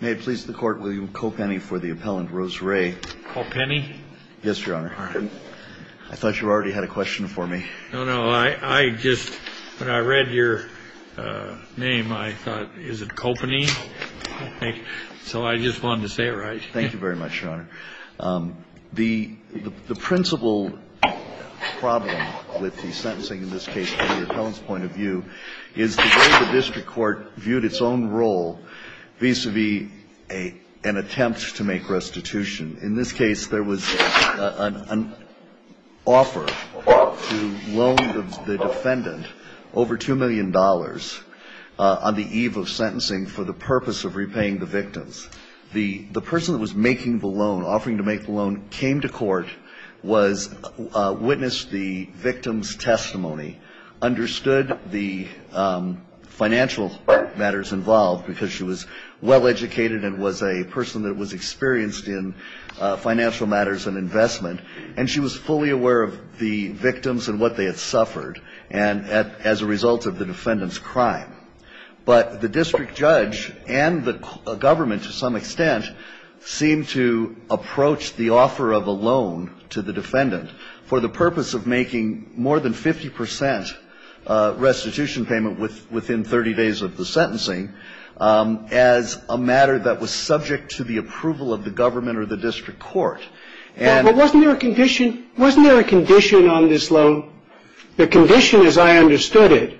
May it please the court, will you co-penny for the appellant, Rose Ray? Co-penny? Yes, Your Honor. All right. I thought you already had a question for me. No, no, I just, when I read your name, I thought, is it co-penny? So I just wanted to say it right. Thank you very much, Your Honor. The principal problem with the sentencing in this case, from the appellant's point of view, is the way the district court viewed its own role vis-a-vis an attempt to make restitution. In this case, there was an offer to loan the defendant over $2 million on the eve of sentencing for the purpose of repaying the victims. The person that was making the loan, offering to make the loan, came to court, witnessed the victim's testimony, understood the financial matters involved, because she was well educated and was a person that was experienced in financial matters and investment, and she was fully aware of the victims and what they had suffered as a result of the defendant's crime. But the district judge and the government to some extent seemed to approach the offer of a loan to the defendant for the purpose of making more than 50 percent restitution payment within 30 days of the sentencing as a matter that was subject to the approval of the government or the district court. But wasn't there a condition on this loan? The condition, as I understood it,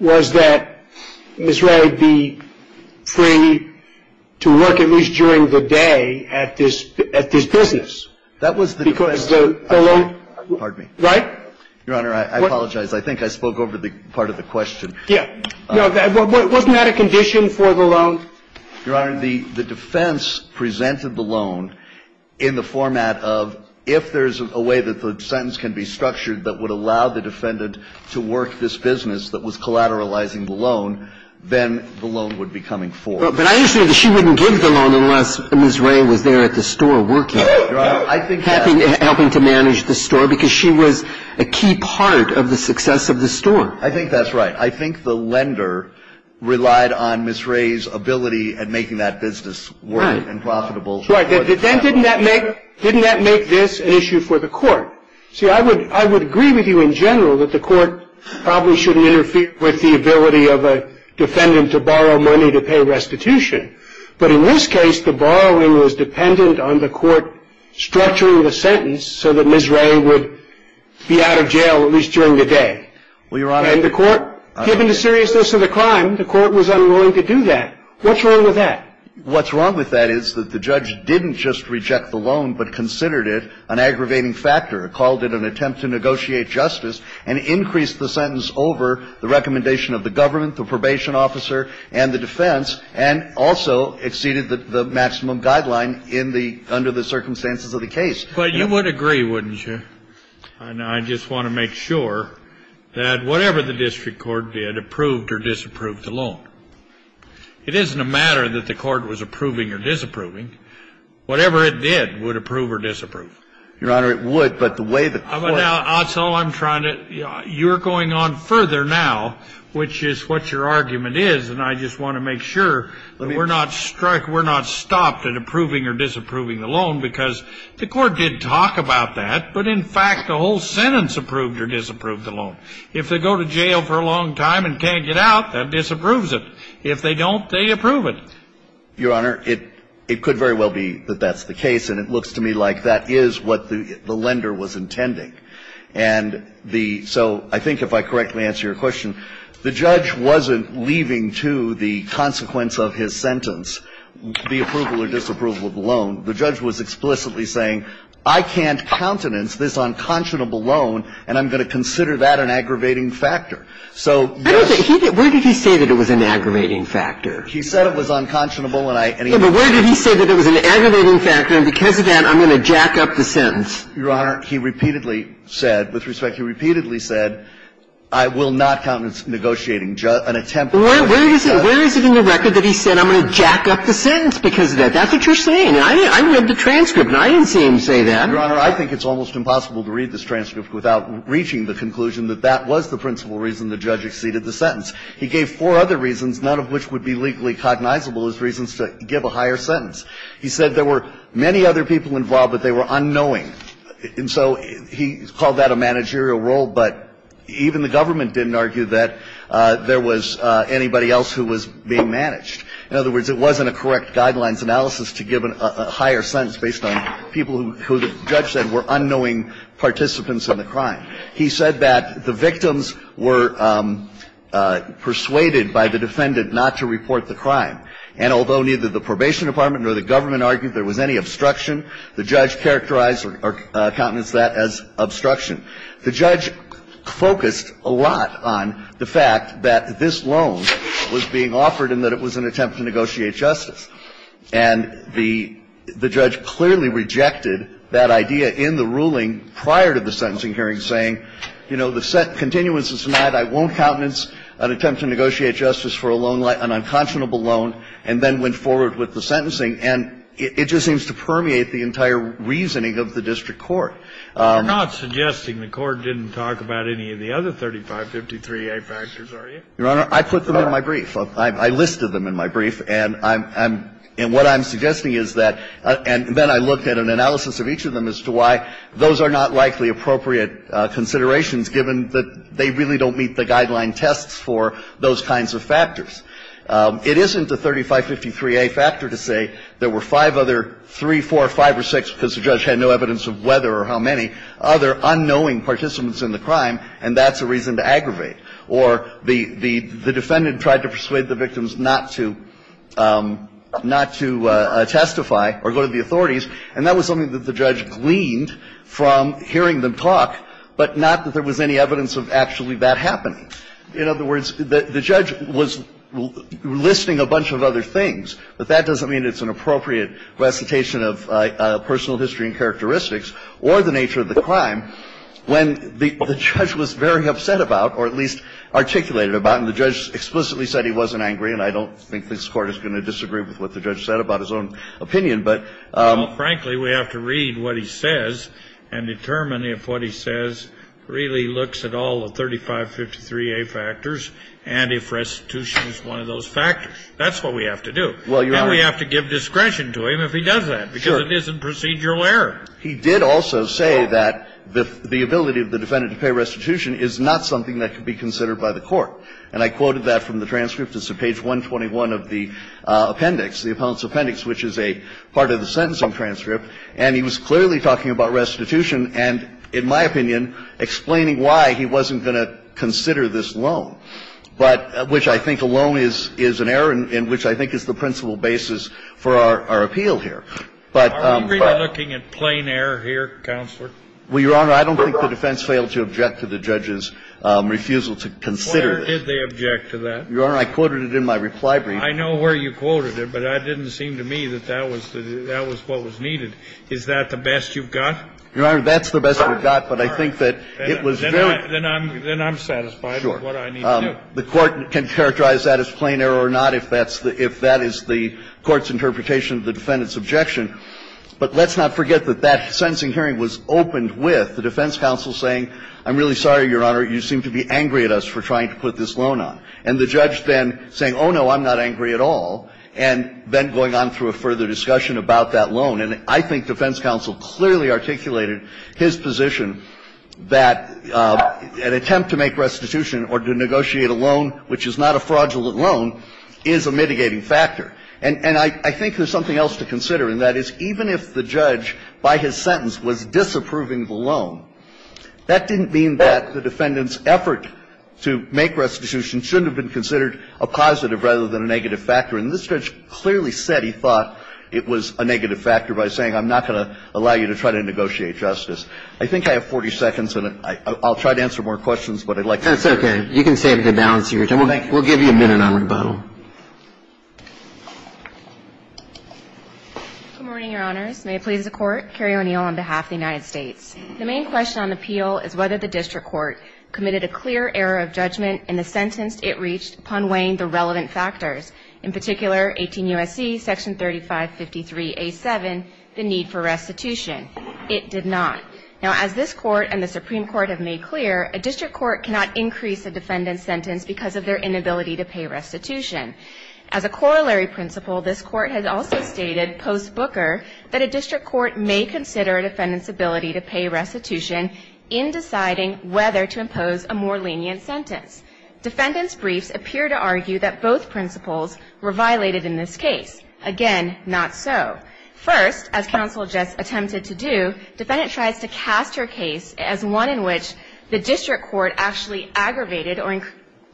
was that Ms. Ray would be free to work at least during the day at this business. That was the defense. Because the loan? Pardon me. Right? Your Honor, I apologize. I think I spoke over the part of the question. Yeah. Wasn't that a condition for the loan? Your Honor, the defense presented the loan in the format of if there's a way that the sentence can be structured that would allow the defendant to work this business that was collateralizing the loan, then the loan would be coming forward. But I understand that she wouldn't give the loan unless Ms. Ray was there at the store working, helping to manage the store, because she was a key part of the success of the store. I think that's right. I think the lender relied on Ms. Ray's ability at making that business work and profitable. Right. Then didn't that make this an issue for the court? See, I would agree with you in general that the court probably shouldn't interfere with the ability of a defendant to borrow money to pay restitution. But in this case, the borrowing was dependent on the court structuring the sentence so that Ms. Ray would be out of jail at least during the day. Well, Your Honor. And the court, given the seriousness of the crime, the court was unwilling to do that. What's wrong with that? What's wrong with that is that the judge didn't just reject the loan but considered it an aggravating factor, called it an attempt to negotiate justice, and increased the sentence over the recommendation of the government, the probation officer, and the defense, and also exceeded the maximum guideline in the – under the circumstances of the case. But you would agree, wouldn't you? I just want to make sure that whatever the district court did approved or disapproved the loan. It isn't a matter that the court was approving or disapproving. Whatever it did would approve or disapprove. Your Honor, it would, but the way the court – That's all I'm trying to – you're going on further now, which is what your argument is, and I just want to make sure that we're not struck – we're not stopped at approving or disapproving the loan because the court did talk about that, but in fact the whole sentence approved or disapproved the loan. If they go to jail for a long time and can't get out, that disapproves it. If they don't, they approve it. Your Honor, it could very well be that that's the case, and it looks to me like that is what the lender was intending. And the – so I think if I correctly answer your question, the judge wasn't leaving to the consequence of his sentence the approval or disapproval of the loan. The judge was explicitly saying, I can't countenance this unconscionable loan, and I'm going to consider that an aggravating factor. So, yes – Where did he say that it was an aggravating factor? He said it was unconscionable, and I – Yes, but where did he say that it was an aggravating factor, and because of that, I'm going to jack up the sentence? Your Honor, he repeatedly said – with respect, he repeatedly said, I will not countenance negotiating an attempt by the judge. Well, where is it – where is it in the record that he said, I'm going to jack up the sentence because of that? That's what you're saying. I read the transcript, and I didn't see him say that. Your Honor, I think it's almost impossible to read this transcript without reaching the conclusion that that was the principal reason the judge exceeded the sentence. He gave four other reasons, none of which would be legally cognizable as reasons to give a higher sentence. He said there were many other people involved, but they were unknowing. And so he called that a managerial role, but even the government didn't argue that there was anybody else who was being managed. In other words, it wasn't a correct guidelines analysis to give a higher sentence based on people who the judge said were unknowing participants in the crime. He said that the victims were persuaded by the defendant not to report the crime. And although neither the probation department nor the government argued there was any obstruction, the judge characterized or countenanced that as obstruction. The judge focused a lot on the fact that this loan was being offered and that it was an attempt to negotiate justice. And the judge clearly rejected that idea in the ruling prior to the sentencing hearing, saying, you know, the set continuance is denied. I won't countenance an attempt to negotiate justice for a loan like an unconscionable loan, and then went forward with the sentencing. And it just seems to permeate the entire reasoning of the district court. Kennedy. You're not suggesting the court didn't talk about any of the other 3553A factors, are you? Your Honor, I put them in my brief. I listed them in my brief. And I'm – and what I'm suggesting is that – and then I looked at an analysis of each of them as to why those are not likely appropriate considerations given that they really don't meet the guideline tests for those kinds of factors. It isn't a 3553A factor to say there were five other, three, four, five, or six, because the judge had no evidence of whether or how many, other unknowing participants in the crime, and that's a reason to aggravate. Or the defendant tried to persuade the victims not to – not to testify or go to the courtroom, and that's a reason to aggravate. And I'm not suggesting that the judge gleaned from hearing them talk, but not that there was any evidence of actually that happening. In other words, the judge was listing a bunch of other things, but that doesn't mean it's an appropriate recitation of personal history and characteristics or the nature of the crime when the judge was very upset about, or at least articulated about, and the judge explicitly said he wasn't angry, and I don't think this Court is going to disagree with what the judge said about his own opinion, but – Well, frankly, we have to read what he says and determine if what he says really looks at all the 3553A factors and if restitution is one of those factors. That's what we have to do. And we have to give discretion to him if he does that, because it isn't procedural error. He did also say that the ability of the defendant to pay restitution is not something that could be considered by the court. And I quoted that from the transcript. It's on page 121 of the appendix, the appellant's appendix, which is a part of the sentencing transcript. And he was clearly talking about restitution and, in my opinion, explaining why he wasn't going to consider this loan, but – which I think alone is an error and which I think is the principal basis for our appeal here. But – Are we really looking at plain error here, Counselor? Well, Your Honor, I don't think the defense failed to object to the judge's refusal to consider this. Well, where did they object to that? Your Honor, I quoted it in my reply brief. I know where you quoted it, but that didn't seem to me that that was the – that was what was needed. Is that the best you've got? Your Honor, that's the best we've got, but I think that it was really – Then I'm – then I'm satisfied with what I need to do. Sure. The court can characterize that as plain error or not if that's the – if that is the court's interpretation of the defendant's objection. But let's not forget that that sentencing hearing was opened with the defense counsel saying, I'm really sorry, Your Honor, you seem to be angry at us for trying to put this loan on. And the judge then saying, oh, no, I'm not angry at all, and then going on through a further discussion about that loan. And I think defense counsel clearly articulated his position that an attempt to make restitution or to negotiate a loan which is not a fraudulent loan is a mitigating factor. And I think there's something else to consider, and that is even if the judge, by his sentence, was disapproving the loan, that didn't mean that the defendant's effort to make restitution shouldn't have been considered a positive rather than a negative factor. And this judge clearly said he thought it was a negative factor by saying, I'm not going to allow you to try to negotiate justice. I think I have 40 seconds, and I'll try to answer more questions, but I'd like to be clear. That's okay. You can save the balance of your time. Thank you. We'll give you a minute on rebuttal. Good morning, Your Honors. May it please the Court. Carrie O'Neill on behalf of the United States. The main question on appeal is whether the district court committed a clear error of judgment in the sentence it reached upon weighing the relevant factors, in particular 18 U.S.C. section 3553A7, the need for restitution. It did not. Now, as this Court and the Supreme Court have made clear, a district court cannot increase a defendant's sentence because of their inability to pay restitution. As a corollary principle, this Court has also stated post-Booker that a district court may consider a defendant's ability to pay restitution in deciding whether to impose a more lenient sentence. Defendant's briefs appear to argue that both principles were violated in this case. Again, not so. First, as counsel just attempted to do, defendant tries to cast her case as one in which the district court actually aggravated or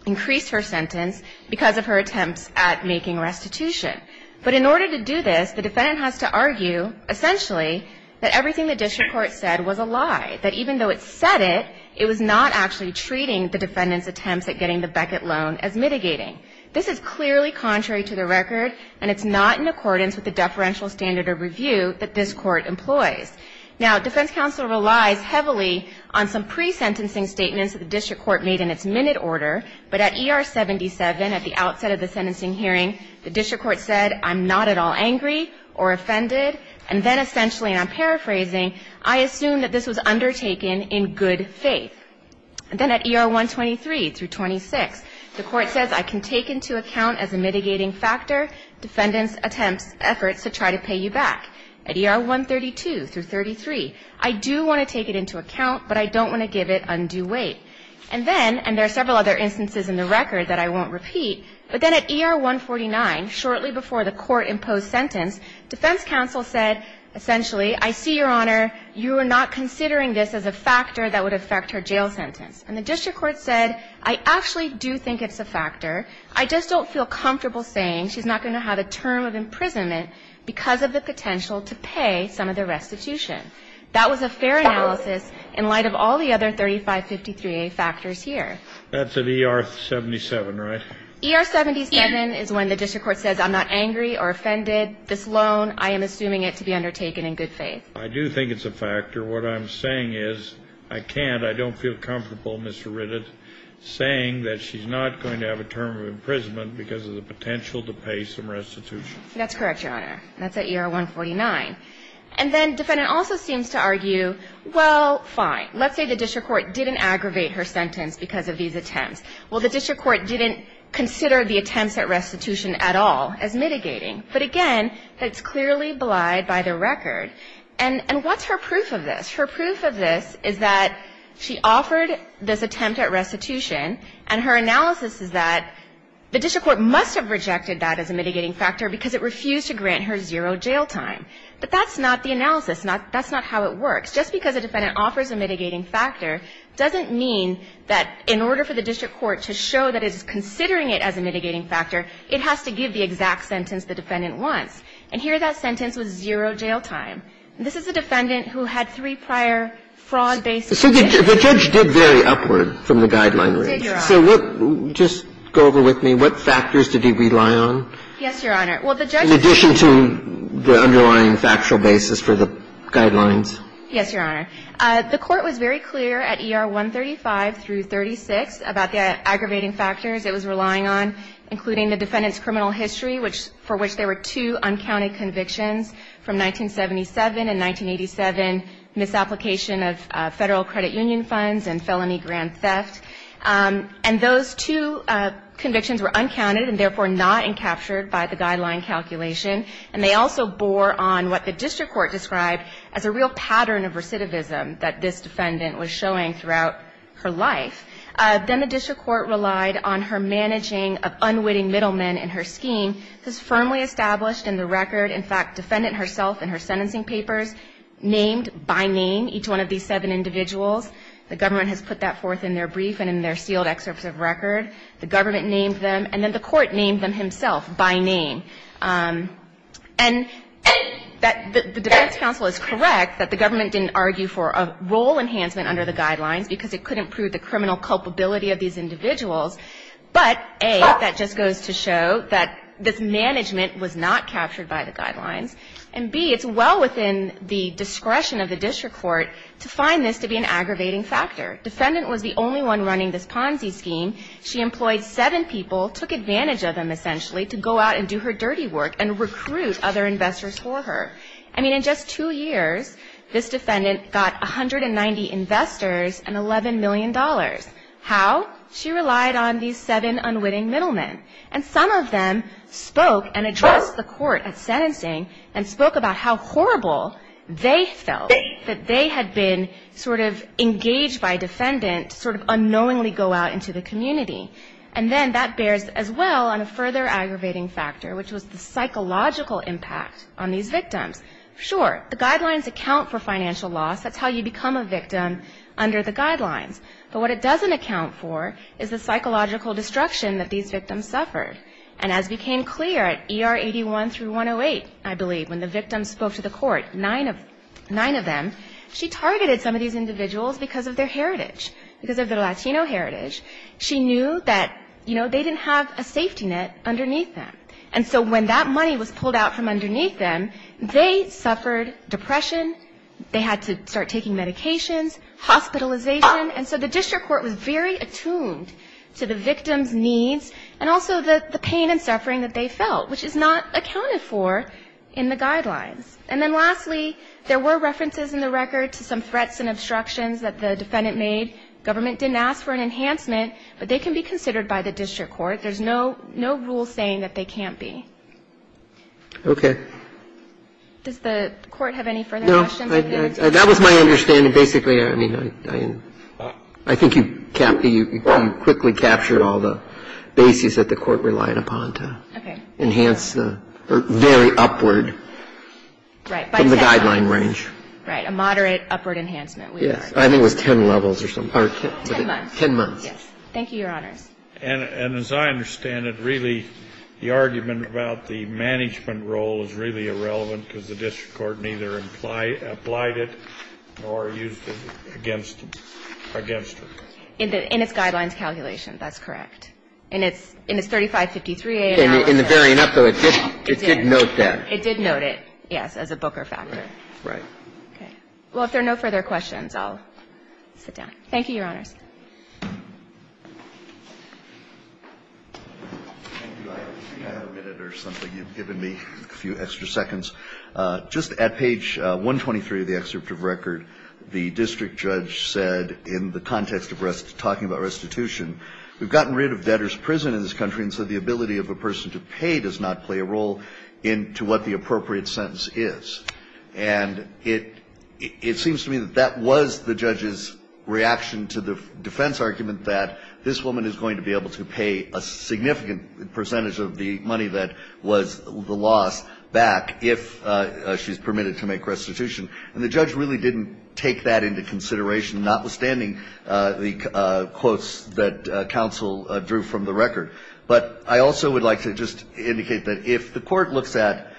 increased her sentence because of her attempts at making restitution. But in order to do this, the defendant has to argue, essentially, that everything the district court said was a lie, that even though it said it, it was not actually treating the defendant's attempts at getting the Beckett loan as mitigating. This is clearly contrary to the record, and it's not in accordance with the deferential standard of review that this Court employs. Now, defense counsel relies heavily on some pre-sentencing statements that the district court made in its minute order, but at ER 77, at the outset of the sentencing hearing, the district court said, I'm not at all angry or offended. And then essentially, and I'm paraphrasing, I assume that this was undertaken in good faith. Then at ER 123 through 26, the Court says, I can take into account as a mitigating factor defendant's attempts, efforts to try to pay you back. At ER 132 through 33, I do want to take it into account, but I don't want to give it undue weight. And then, and there are several other instances in the record that I won't repeat, but then at ER 149, shortly before the Court imposed sentence, defense counsel said, essentially, I see, Your Honor, you are not considering this as a factor that would affect her jail sentence. And the district court said, I actually do think it's a factor. I just don't feel comfortable saying she's not going to have a term of imprisonment because of the potential to pay some of the restitution. That was a fair analysis in light of all the other 3553A factors here. That's at ER 77, right? ER 77 is when the district court says, I'm not angry or offended. This loan, I am assuming it to be undertaken in good faith. I do think it's a factor. What I'm saying is, I can't, I don't feel comfortable, Mr. Ritted, saying that she's not going to have a term of imprisonment because of the potential to pay some restitution. That's correct, Your Honor. That's at ER 149. And then defendant also seems to argue, well, fine. Let's say the district court didn't aggravate her sentence because of these attempts. Well, the district court didn't consider the attempts at restitution at all as mitigating. But again, it's clearly belied by the record. And what's her proof of this? Her proof of this is that she offered this attempt at restitution, and her analysis is that the district court must have rejected that as a mitigating factor because it refused to grant her zero jail time. But that's not the analysis. That's not how it works. Just because a defendant offers a mitigating factor doesn't mean that in order for the district court to show that it's considering it as a mitigating factor, it has to give the exact sentence the defendant wants. And here, that sentence was zero jail time. And this is a defendant who had three prior fraud-based cases. So the judge did vary upward from the guideline range. He did, Your Honor. So what – just go over with me. What factors did he rely on? Yes, Your Honor. In addition to the underlying factual basis for the guidelines. Yes, Your Honor. The Court was very clear at ER 135 through 36 about the aggravating factors it was relying on, including the defendant's criminal history, for which there were two uncounted convictions from 1977 and 1987, misapplication of Federal credit union funds and felony grand theft. And those two convictions were uncounted and therefore not encaptured by the guideline calculation. And they also bore on what the district court described as a real pattern of recidivism that this defendant was showing throughout her life. Then the district court relied on her managing of unwitting middlemen in her scheme. This firmly established in the record. In fact, defendant herself in her sentencing papers named by name each one of these seven individuals. The government has put that forth in their brief and in their sealed excerpts of record. The government named them. And then the court named them himself by name. And the defense counsel is correct that the government didn't argue for a role enhancement under the guidelines because it couldn't prove the criminal culpability of these individuals. But, A, that just goes to show that this management was not captured by the guidelines. And, B, it's well within the discretion of the district court to find this to be an aggravating factor. Defendant was the only one running this Ponzi scheme. She employed seven people, took advantage of them essentially to go out and do her dirty work and recruit other investors for her. I mean, in just two years, this defendant got 190 investors and $11 million. How? She relied on these seven unwitting middlemen. And some of them spoke and addressed the court at sentencing and spoke about how horrible they felt that they had been sort of engaged by a defendant to sort of unknowingly go out into the community. And then that bears as well on a further aggravating factor, which was the psychological impact on these victims. Sure, the guidelines account for financial loss. That's how you become a victim under the guidelines. But what it doesn't account for is the psychological destruction that these victims suffered. And as became clear at ER 81 through 108, I believe, when the victim spoke to the court, nine of them, she targeted some of these individuals because of their heritage, because of their Latino heritage. She knew that, you know, they didn't have a safety net underneath them. And so when that money was pulled out from underneath them, they suffered depression, they had to start taking medications, hospitalization. And so the district court was very attuned to the victims' needs and also the pain and suffering that they felt, which is not accounted for in the guidelines. And then lastly, there were references in the record to some threats and obstructions that the defendant made. Government didn't ask for an enhancement, but they can be considered by the district court. There's no rule saying that they can't be. Okay. Does the Court have any further questions? That was my understanding. Basically, I mean, I think you quickly captured all the bases that the Court relied upon to enhance the very upward from the guideline range. Right. A moderate upward enhancement. Yes. I think it was 10 levels or something. Ten months. Ten months. Yes. Thank you, Your Honors. And as I understand it, really, the argument about the management role is really relevant, because the district court neither applied it nor used it against it. In its guidelines calculation, that's correct. In its 3553A. In the very end, though, it did note that. It did note it, yes, as a Booker factor. Right. Okay. Well, if there are no further questions, I'll sit down. Thank you, Your Honors. Thank you. I think I have a minute or something. You've given me a few extra seconds. Just at page 123 of the excerpt of record, the district judge said, in the context of talking about restitution, we've gotten rid of debtor's prison in this country and so the ability of a person to pay does not play a role in to what the appropriate sentence is. And it seems to me that that was the judge's reaction to the defense argument that this woman is going to be able to pay a significant percentage of the money that was the loss back if she's permitted to make restitution. And the judge really didn't take that into consideration, notwithstanding the quotes that counsel drew from the record. But I also would like to just indicate that if the court looks at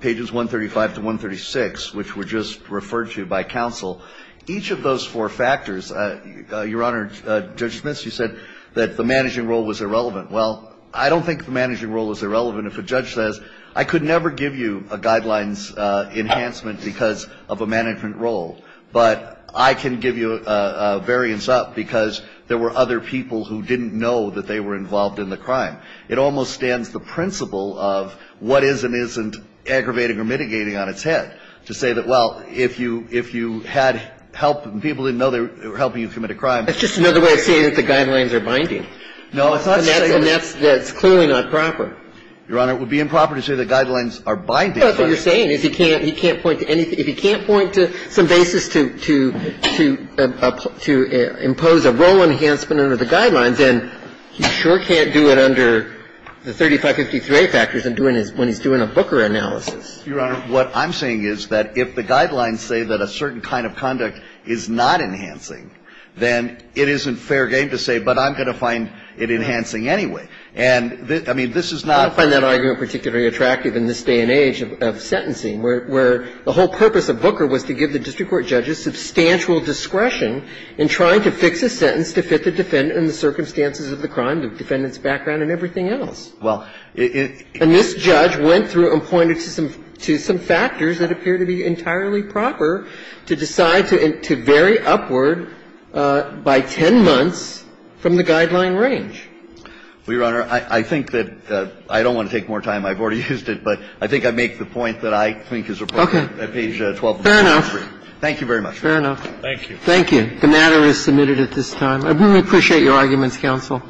pages 135 to 136, which were just referred to by counsel, each of those four factors, Your Honor, Judge Smith, you said that the managing role was irrelevant. Well, I don't think the managing role was irrelevant. If a judge says, I could never give you a guidelines enhancement because of a management role, but I can give you a variance up because there were other people who didn't know that they were involved in the crime, it almost stands the principle of what is and isn't aggravating or mitigating on its head to say that, well, if you had help and people didn't know they were helping you commit a crime. That's just another way of saying that the guidelines are binding. No, it's not saying that. And that's clearly not proper. Your Honor, it would be improper to say the guidelines are binding. That's what you're saying, is he can't point to anything. But if he's doing a Booker analysis to impose a role enhancement under the guidelines, then he sure can't do it under the 3553A factors when he's doing a Booker analysis. Your Honor, what I'm saying is that if the guidelines say that a certain kind of conduct is not enhancing, then it isn't fair game to say, but I'm going to find it enhancing anyway. And I mean, this is not the case. I don't find that argument particularly attractive in this day and age of sentencing, where the whole purpose of Booker was to give the district court judges substantial discretion in trying to fix a sentence to fit the defendant and the circumstances of the crime, the defendant's background and everything else. And this judge went through and pointed to some factors that appear to be entirely proper to decide to vary upward by 10 months from the guideline range. Well, Your Honor, I think that I don't want to take more time. I've already used it, but I think I make the point that I think is appropriate at page 1243. Okay. Fair enough. Thank you very much. Fair enough. Thank you. Thank you. The matter is submitted at this time. I really appreciate your arguments, counsel.